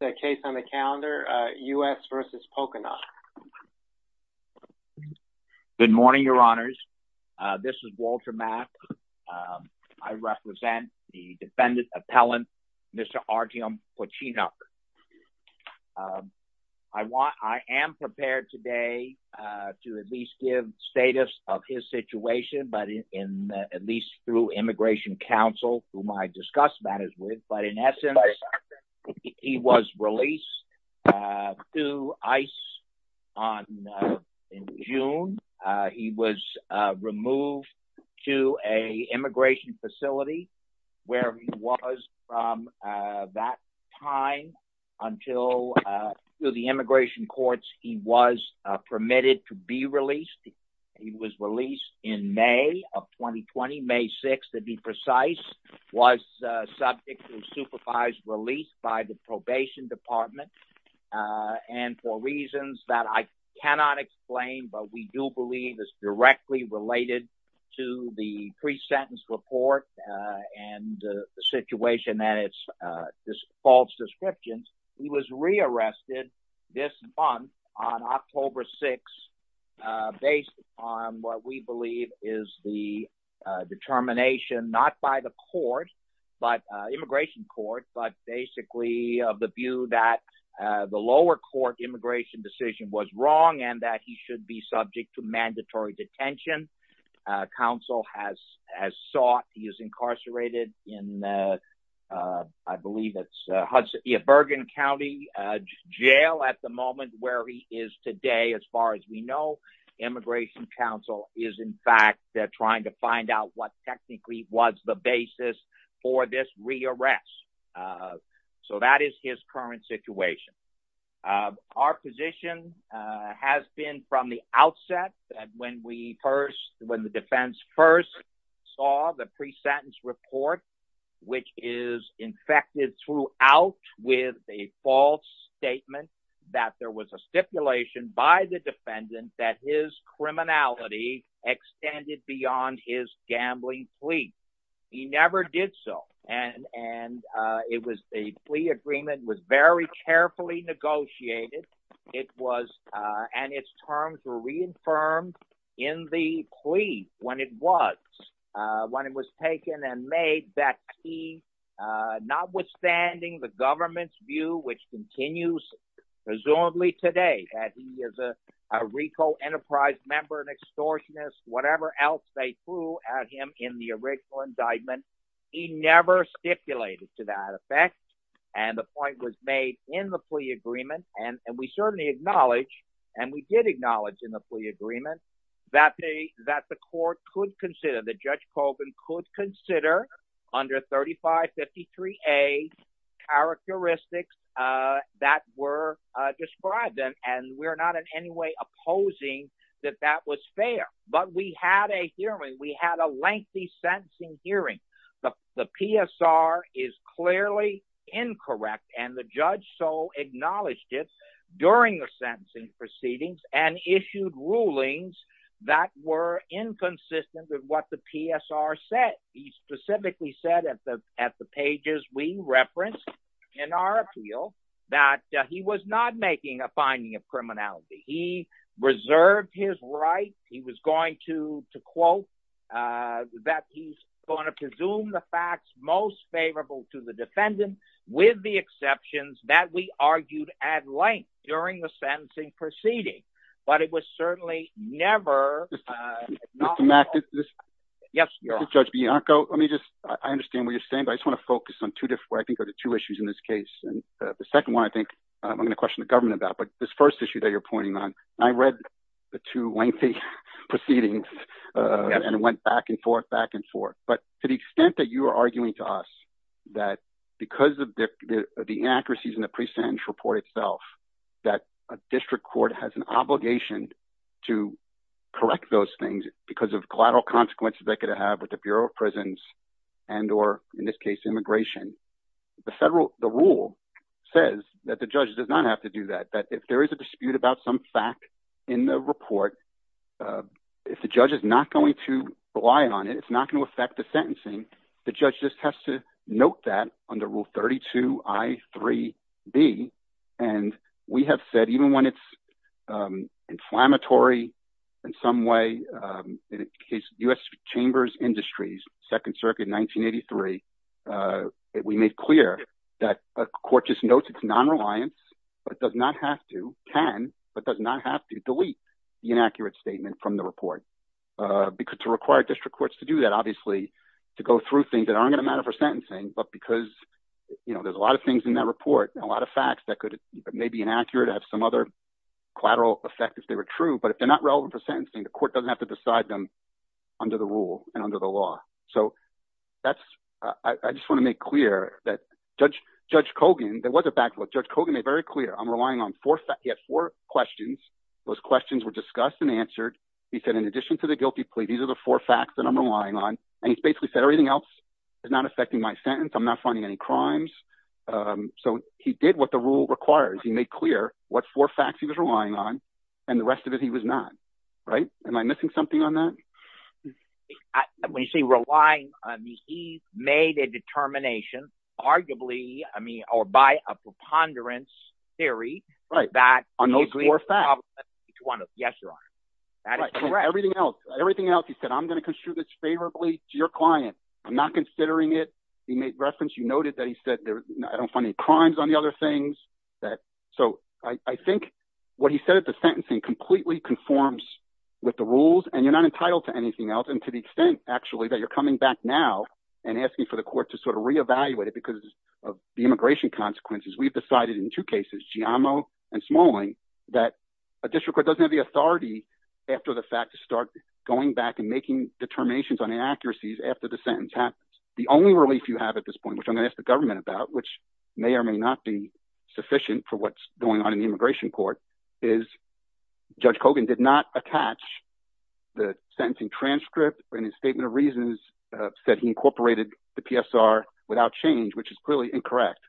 The case on the calendar, U.S. v. Pocinoc. Good morning, your honors. This is Walter Mack. I represent the defendant appellant, Mr. Artem Pocinoc. I am prepared today to at least give status of his situation, but at least through immigration counsel, whom I discussed matters with, but in essence, he was released to ICE in June. He was removed to an immigration facility where he was from that time until through the immigration courts, he was permitted to be released. He was released in May of 2020, May 6 to be precise, was subject to supervised release by the probation department and for reasons that I cannot explain, but we do believe is directly related to the pre-sentence report and the situation that it's just false descriptions. He was rearrested this month on the determination, not by the immigration court, but basically of the view that the lower court immigration decision was wrong and that he should be subject to mandatory detention. Counsel has sought, he is incarcerated in, I believe it's Bergen County Jail at the moment where he is today. As far as we know, immigration counsel is in fact, they're trying to find out what technically was the basis for this rearrest. So that is his current situation. Our position has been from the outset that when we first, when the defense first saw the pre-sentence report, which is infected throughout with a false statement that there was a stipulation by the defendant that his criminality extended beyond his gambling plea. He never did so. And it was a plea agreement was very carefully negotiated. It was, and its terms were reaffirmed in the plea when it was, when it was taken and made that he, notwithstanding the government's view, which continues presumably today that he is a RICO enterprise member and extortionist, whatever else they threw at him in the original indictment, he never stipulated to that effect. And the point was made in the plea agreement. And we certainly acknowledge, and we did acknowledge in the plea agreement that they, that the court could consider, that judge Colvin could consider under 3553A characteristics that were described them. And we're not in any way opposing that that was fair, but we had a hearing, we had a lengthy sentencing hearing. The PSR is clearly incorrect. And the judge so acknowledged it during the sentencing proceedings and issued rulings that were inconsistent with what the PSR said. He specifically said at the, at the pages we referenced in our appeal that he was not making a finding of criminality. He reserved his right. He was going to, to quote, that he's going to presume the facts most favorable to the defendant with the exceptions that we argued at length during the sentencing proceeding, but it was certainly never. Yes, Judge Bianco, let me just, I understand what you're saying, but I just want to focus on two different, I think are the two issues in this case. And the second one, I think I'm going to question the government about, but this first issue that you're pointing on, I read the two lengthy proceedings and it went back and forth, back and forth. But to the extent that you are arguing to us that because of the inaccuracies in the pre-sentence report itself, that a district court has an obligation to correct those things because of collateral consequences they could have with the Bureau of Prisons and, or in this case, immigration, the federal, the rule says that the judge does not have to do that. That if there is a dispute about some fact in the report, if the judge is not going to rely on it, it's not going to affect the sentencing. The judge just has to note that under rule 32 I3B. And we have said, even when it's inflammatory in some way, in the case of U.S. Chambers Industries, Second Circuit, 1983, we made clear that a court just notes it's non-reliance, but does not have to, can, but does not have to delete the inaccurate statement from the report. To require district courts to do that, obviously, to go through things that aren't going to matter for sentencing, but because there's a lot of things in that report, a lot of facts that could may be inaccurate, have some other collateral effect if they were true, but if they're not relevant for sentencing, the court doesn't have to decide them under the rule and under the law. So that's, I just want to make clear that Judge Kogan, there was a backlog. Judge Kogan made very clear, I'm relying on four, he had four questions. Those questions were discussed and answered. He said, in addition to the guilty plea, these are the four facts that I'm relying on. And he basically said everything else is not affecting my sentence. I'm not finding any crimes. So he did what the rule requires. He made clear what four facts he was relying on and the rest of it he was not, right? Am I missing something on that? When you say relying, I mean, he made a determination arguably, I mean, or by a preponderance theory. Right, on those four facts. Yes, Your Honor. Everything else, he said, I'm going to construe this favorably to your client. I'm not considering it. He made reference, you noted that he said, I don't find any crimes on the other things. So I think what he said at the extent actually that you're coming back now and asking for the court to sort of reevaluate it because of the immigration consequences, we've decided in two cases, Giammo and Smalling, that a district court doesn't have the authority after the fact to start going back and making determinations on inaccuracies after the sentence happens. The only relief you have at this point, which I'm going to ask the government about, which may or may not be sufficient for what's not attached, the sentencing transcript in his statement of reasons said he incorporated the PSR without change, which is clearly incorrect.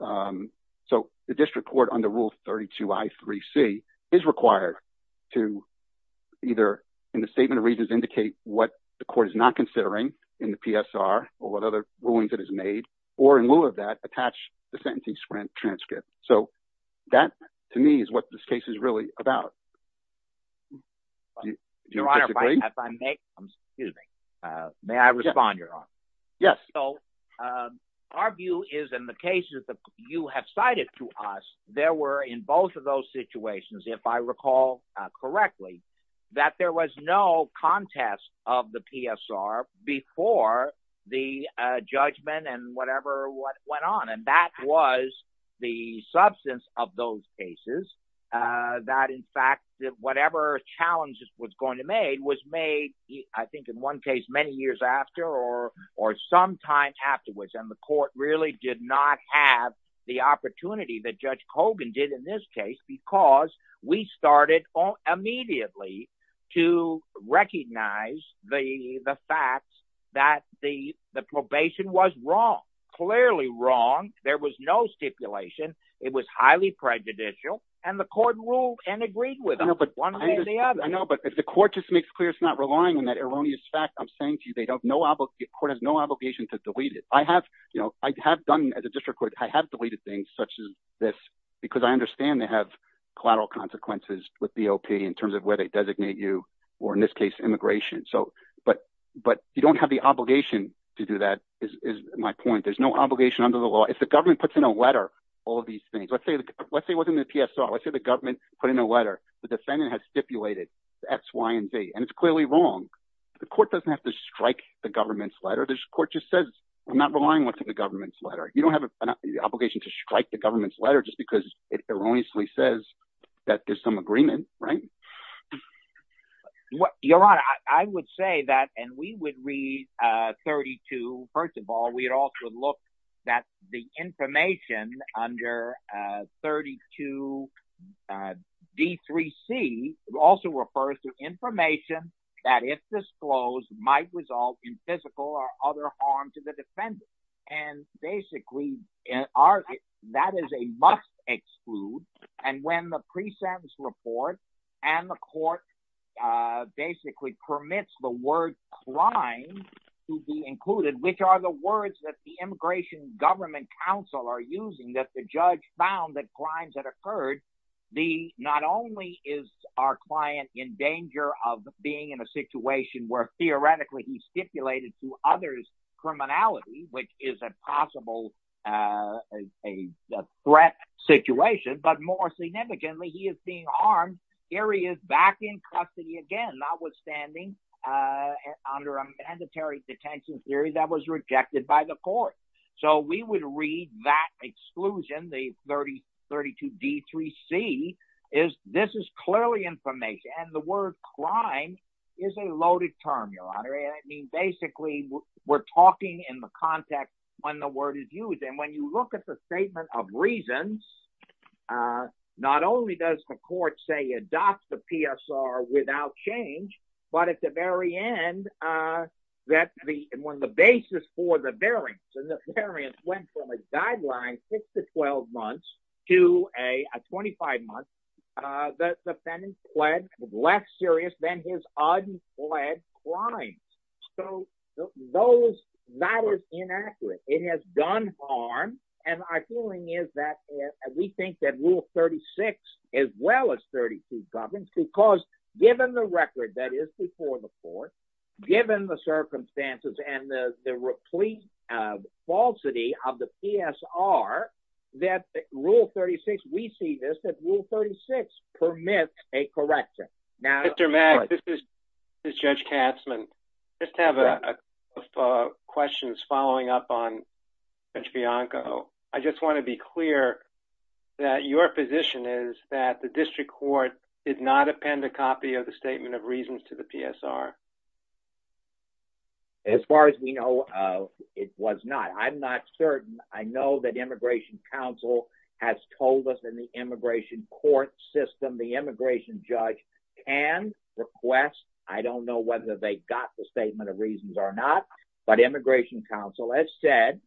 So the district court under rule 32 I 3 C is required to either in the statement of reasons indicate what the court is not considering in the PSR or what other rulings that is made or in lieu of that attach the sentencing transcript. So that to me is what this case is really about. Your Honor, if I may, may I respond, Your Honor? Yes. So our view is in the cases that you have cited to us, there were in both of those situations, if I recall correctly, that there was no contest of the PSR before the judgment and whatever went on. And that was the substance of those cases, that in fact, whatever challenges was going to made was made, I think, in one case many years after or or some time afterwards. And the court really did not have the opportunity that Judge Kogan did in this case because we started immediately to recognize the was highly prejudicial and the court ruled and agreed with one or the other. I know, but if the court just makes clear it's not relying on that erroneous fact, I'm saying to you, they don't, no, the court has no obligation to delete it. I have, you know, I have done as a district court, I have deleted things such as this because I understand they have collateral consequences with BOP in terms of where they designate you or in this case immigration. So but you don't have the obligation to do that is my point. There's no obligation under the law. If the government puts in a letter all these things, let's say, let's say it wasn't the PSR, let's say the government put in a letter, the defendant has stipulated X, Y, and Z, and it's clearly wrong. The court doesn't have to strike the government's letter. This court just says, I'm not relying on the government's letter. You don't have an obligation to strike the government's letter just because it erroneously says that there's some agreement, right? Your Honor, I would say that and we would read 32, first of all, we'd also look that the information under 32 D3C also refers to information that if disclosed might result in physical or other harm to the defendant. And basically, that is a must exclude. And when the pre-sentence report and the court basically permits the word crime to be included, which are the words that the immigration government counsel are using, that the judge found that crimes that occurred, the not only is our client in danger of being in a situation where theoretically he stipulated to others criminality, which is a possible threat situation, but more significantly, he is being armed. Here he is back in custody again, notwithstanding under a mandatory detention theory that was rejected by the court. So we would read that exclusion, the 30, 32 D3C is this is clearly information. And the word crime is a loaded term, Your Honor. And I mean, basically we're talking in the context when the word is used. And when you look at the statement of reasons, uh, not only does the court say adopt the PSR without change, but at the very end, uh, that the, when the basis for the variance and the variance went from a guideline six to 12 months to a 25 months, uh, the defendant pled less serious than his unpled crimes. So those, that is inaccurate. It has done harm. And I feeling is that we think that rule 36 as well as 32 governs, because given the record that is before the court, given the circumstances and the, the replete, uh, falsity of the PSR that rule 36, we see this that rule 36 permits a correction. Mr. Mack, this is Judge Katzman. I just have a couple of questions following up on Judge Bianco. I just want to be clear that your position is that the district court did not append a copy of the statement of reasons to the PSR. As far as we know, uh, it was not, I'm not certain. I know that immigration counsel has told us in the immigration court system, the immigration judge can request, I don't know whether they got the statement of reasons or not, but immigration counsel has said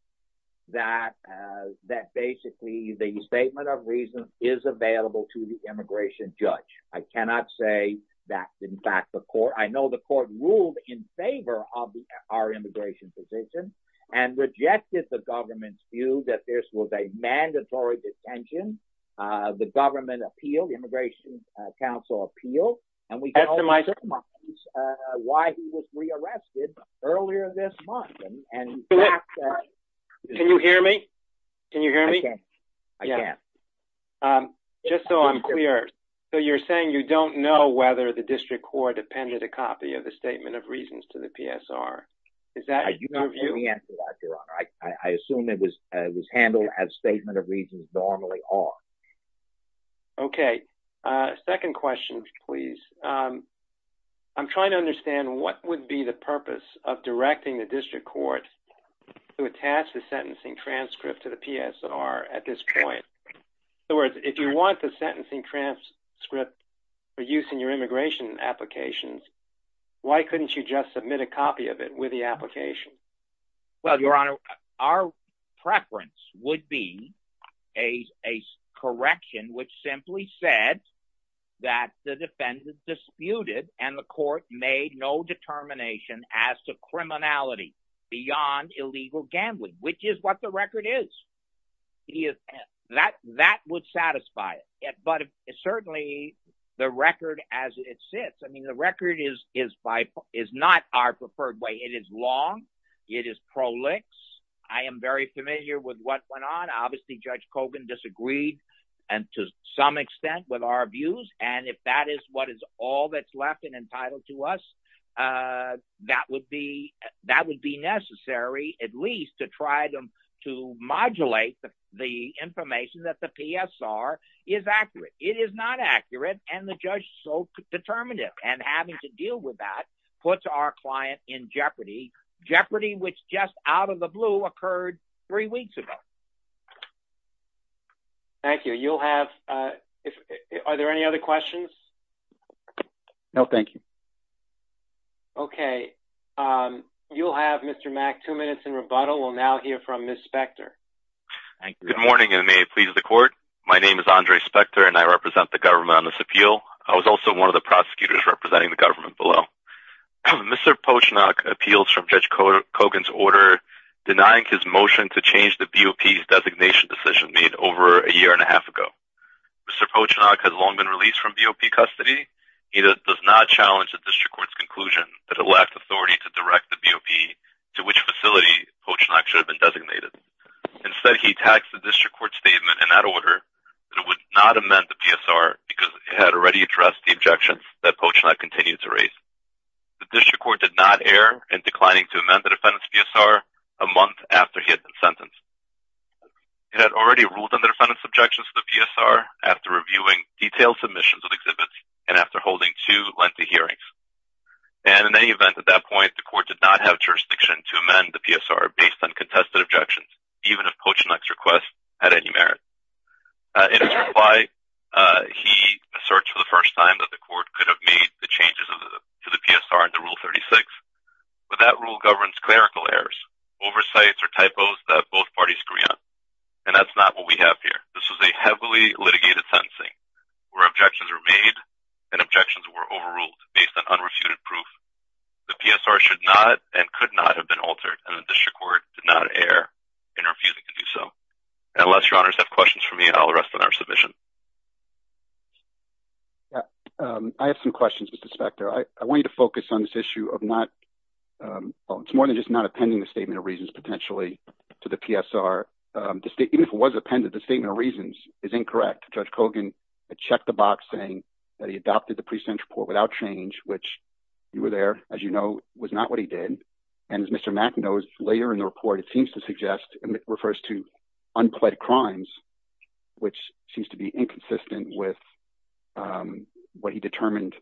that, uh, that basically the statement of reasons is available to the immigration judge. I cannot say that in fact, the court, I know the court ruled in favor of the, our immigration position and rejected the government's view that this was a mandatory detention. Uh, the government immigration, uh, counsel appeal and we don't know why he was re-arrested earlier this month. Can you hear me? Can you hear me? I can't. Um, just so I'm clear. So you're saying you don't know whether the district court appended a copy of the statement of reasons to the PSR. Is that your view? I assume it was, uh, it was handled as statement of reasons normally are. Okay. Uh, second question, please. Um, I'm trying to understand what would be the purpose of directing the district court to attach the sentencing transcript to the PSR at this point. In other words, if you want the sentencing transcript for use in your immigration applications, why couldn't you just submit a copy of it with the application? Well, your honor, our preference would be a, a correction, which simply said that the defendant disputed and the court made no determination as to criminality beyond illegal gambling, which is what the record is. He is that, that would satisfy it. But it's it is pro licks. I am very familiar with what went on. Obviously judge Cogan disagreed and to some extent with our views. And if that is what is all that's left and entitled to us, uh, that would be, that would be necessary at least to try them to modulate the information that the PSR is accurate. It is not accurate. And the judge so determinative and having to deal with that puts our client in jeopardy jeopardy, which just out of the blue occurred three weeks ago. Thank you. You'll have, uh, if, uh, are there any other questions? No, thank you. Okay. Um, you'll have Mr. Mack, two minutes in rebuttal. We'll now hear from Ms. Spector. Good morning. And may it please the court. My name is Andre Spector and I represent the government on this appeal. I was also one of the prosecutors representing the government below. Mr. Pochnack appeals from judge Cogan's order denying his motion to change the BOP designation decision made over a year and a half ago. Mr. Pochnack has long been released from BOP custody. He does not challenge the district court's conclusion that it lacked authority to direct the BOP to which facility Pochnack should have been designated. Instead, he taxed the district court statement in that order that it would not amend the PSR because it had already addressed the objections that Pochnack continued to raise. The district court did not err in declining to amend the defendant's PSR a month after he had been sentenced. It had already ruled on the defendant's objections to the PSR after reviewing detailed submissions of exhibits and after holding two lengthy hearings. And in any event, at that point, the court did not have jurisdiction to amend the PSR based on contested objections, even if Pochnack's request had any merit. In his reply, he asserts for the first time that the court could have made the changes to the PSR under Rule 36, but that rule governs clerical errors, oversights, or typos that both parties agree on. And that's not what we have here. This was a heavily litigated sentencing where objections were made and objections were overruled based on unrefuted proof. The PSR should not and could not have been altered and the district court did not err in refusing to do so. Unless your honors have questions for me, I'll rest on our submission. I have some questions, Mr. Spector. I want you to focus on this issue of not, it's more than just not appending the Statement of Reasons potentially to the PSR. Even if it was appended, the Statement of Reasons is incorrect. Judge Kogan had checked the box saying that he adopted the pre-sentence report without change, which you were there, as you know, was not what he did. And as Mr. Mack knows, later in the report, it seems to suggest and it refers to unpled crimes, which seems to be inconsistent with what he determined.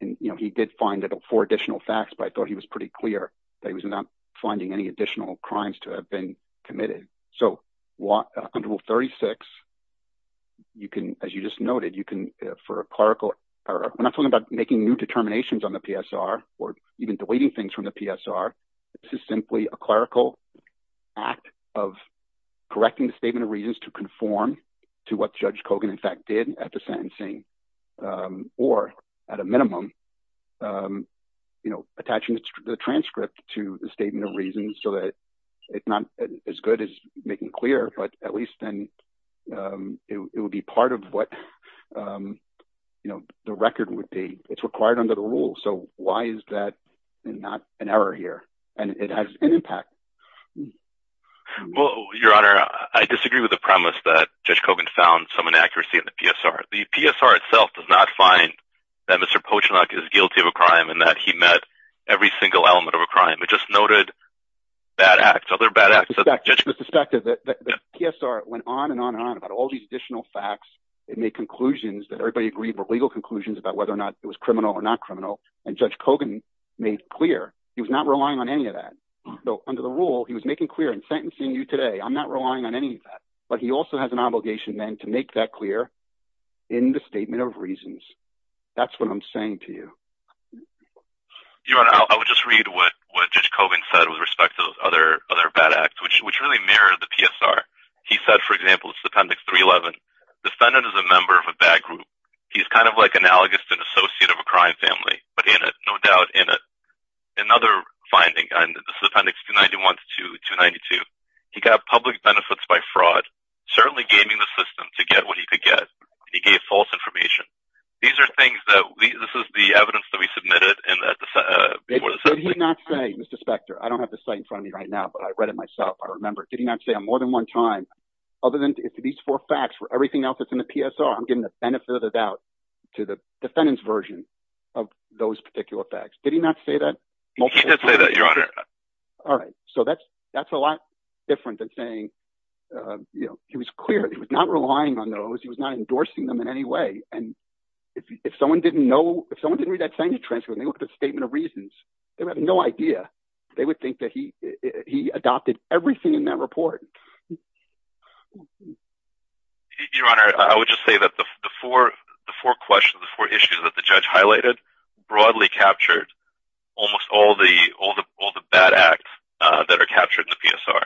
And, you know, he did find four additional facts, but I thought he was pretty clear that he was not finding any additional crimes to have been committed. So under Rule 36, you can, as you just noted, you can, for a clerical error, we're not talking about making new determinations on the PSR or even deleting things from the PSR. This is simply a clerical act of correcting the Statement of Reasons to conform to what Judge Kogan in fact did at the sentencing, or at a minimum, you know, attaching the transcript to the Statement of Reasons so that it's not as good as making clear, but at least then it would be part of what, you know, the record would be. It's required under the rule. So why is that not an error here? And it has an impact. Well, Your Honor, I disagree with the premise that Judge Kogan found some inaccuracy in the PSR. The PSR itself does not find that Mr. Pochenak is guilty of a crime and that he met every single element of a crime. It just noted bad acts, other bad acts. It's suspected that the PSR went on and on and on about all these additional facts. It made conclusions that everybody agreed were legal conclusions about whether or not it was criminal or not criminal. And Judge Kogan made clear he was not relying on any of that. So under the rule, he was making clear in sentencing you today, I'm not relying on any of that. But he also has an obligation then to make that clear in the Statement of Reasons. That's what I'm saying to you. Your Honor, I would just read what Judge Kogan said with respect to those other bad acts, which really mirrored the PSR. He said, for example, this is Appendix 311. The defendant is a member of a bad group. He's kind of like analogous to an associate of a crime family, but no doubt in it. Another finding, this is Appendix 291 to 292, he got public benefits by fraud, certainly gaming the system to get what he could get. He gave false information. These are things that, this is the evidence that we submitted. Did he not say, Mr. Spector, I don't have the site in front of me right now, but I read it myself. I remember. Did he not say on more than one time, other than these four facts for everything else that's in the PSR, I'm getting the benefit of the doubt to the defendant's version of those particular facts. Did he not say that? He did say that, Your Honor. All right. So that's a lot different than saying, you know, he was clear. He was not relying on those. He was not endorsing them in any way. And if someone didn't know, if someone didn't read that sign to transfer, they looked at the Statement of Reasons, they would have no idea. They would think that he adopted everything in that report. Your Honor, I would just say that the four questions, the four issues that the judge highlighted broadly captured almost all the bad acts that are captured in the PSR.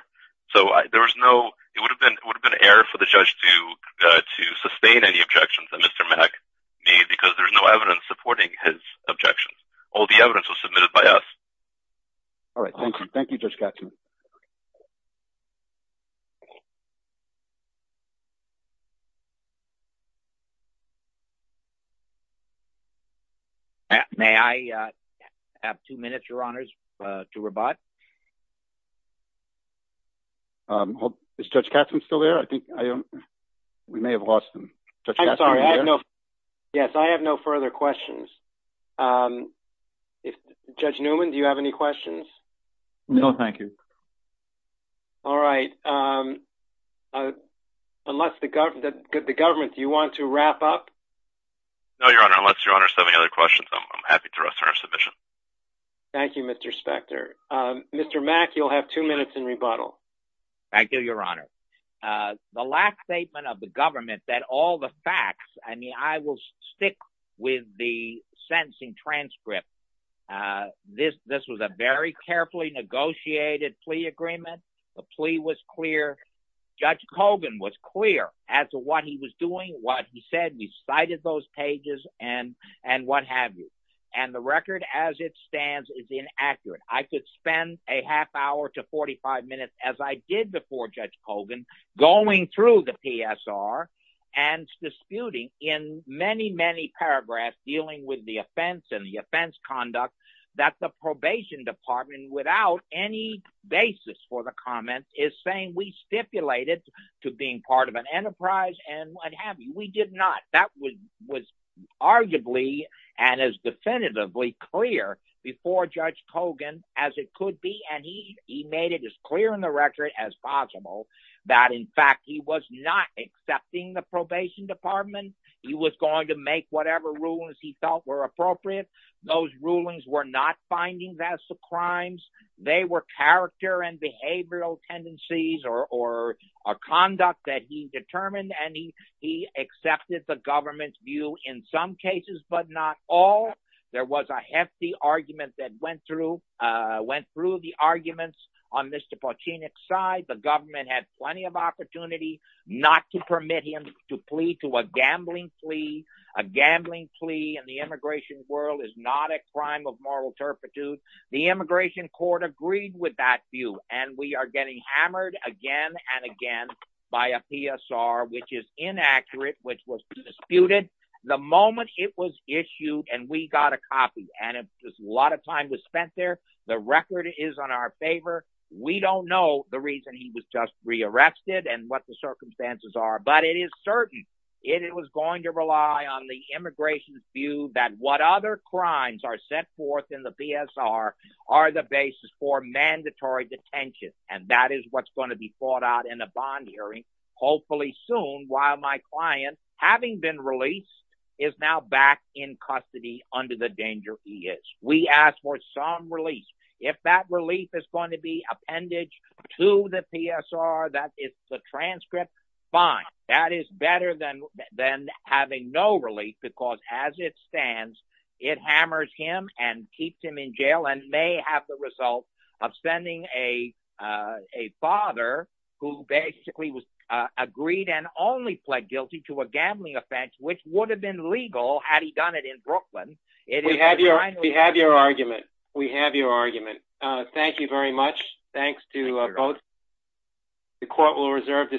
So there was no, it would have been an error for the judge to sustain any objections that Mr. Mack made because there's no evidence supporting his objections. All the evidence was submitted by us. All right. Thank you. Thank you, Judge Gatsby. Okay. May I have two minutes, Your Honors, to rebut? Is Judge Gatsby still there? I think we may have lost him. Yes, I have no further questions. Judge Newman, do you have any questions? No, thank you. All right. Unless the government, do you want to wrap up? No, Your Honor. Unless Your Honor has any other questions, I'm happy to restart our submission. Thank you, Mr. Spector. Mr. Mack, you'll have two minutes in rebuttal. Thank you, Your Honor. The last statement of the government that all the facts, I mean, I will carefully negotiate a plea agreement. The plea was clear. Judge Kogan was clear as to what he was doing, what he said. We cited those pages and what have you. And the record as it stands is inaccurate. I could spend a half hour to 45 minutes, as I did before Judge Kogan, going through the PSR and disputing in many, many paragraphs dealing with the offense and without any basis for the comments is saying we stipulated to being part of an enterprise and what have you. We did not. That was arguably and is definitively clear before Judge Kogan as it could be. And he made it as clear in the record as possible that, in fact, he was not accepting the probation department. He was going to make whatever rulings he felt were appropriate. Those rulings were not findings as to crimes. They were character and behavioral tendencies or conduct that he determined. And he accepted the government's view in some cases, but not all. There was a hefty argument that went through, went through the arguments on Mr. Pochenik's side. The government had plenty of opportunity not to permit him to plead to a gambling plea, a gambling plea and the immigration world is not a crime of moral turpitude. The immigration court agreed with that view. And we are getting hammered again and again by a PSR, which is inaccurate, which was disputed the moment it was issued. And we got a copy and a lot of time was spent there. The record is on our favor. We don't know the reason he was just rearrested and what the circumstances are, but it is certain it was going to rely on the immigration's view that what other crimes are set forth in the PSR are the basis for mandatory detention. And that is what's going to be fought out in a bond hearing, hopefully soon, while my client, having been released, is now back in custody under the danger he is. We ask for some relief. If that relief is going to be appendage to the PSR, that is the transcript. Fine. That is better than having no relief, because as it stands, it hammers him and keeps him in jail and may have the result of sending a father who basically was agreed and only pled guilty to a gambling offense, which would have been legal had he done it in Brooklyn. We have your argument. We have your argument. Thank you very much. Thanks to both. The court will reserve the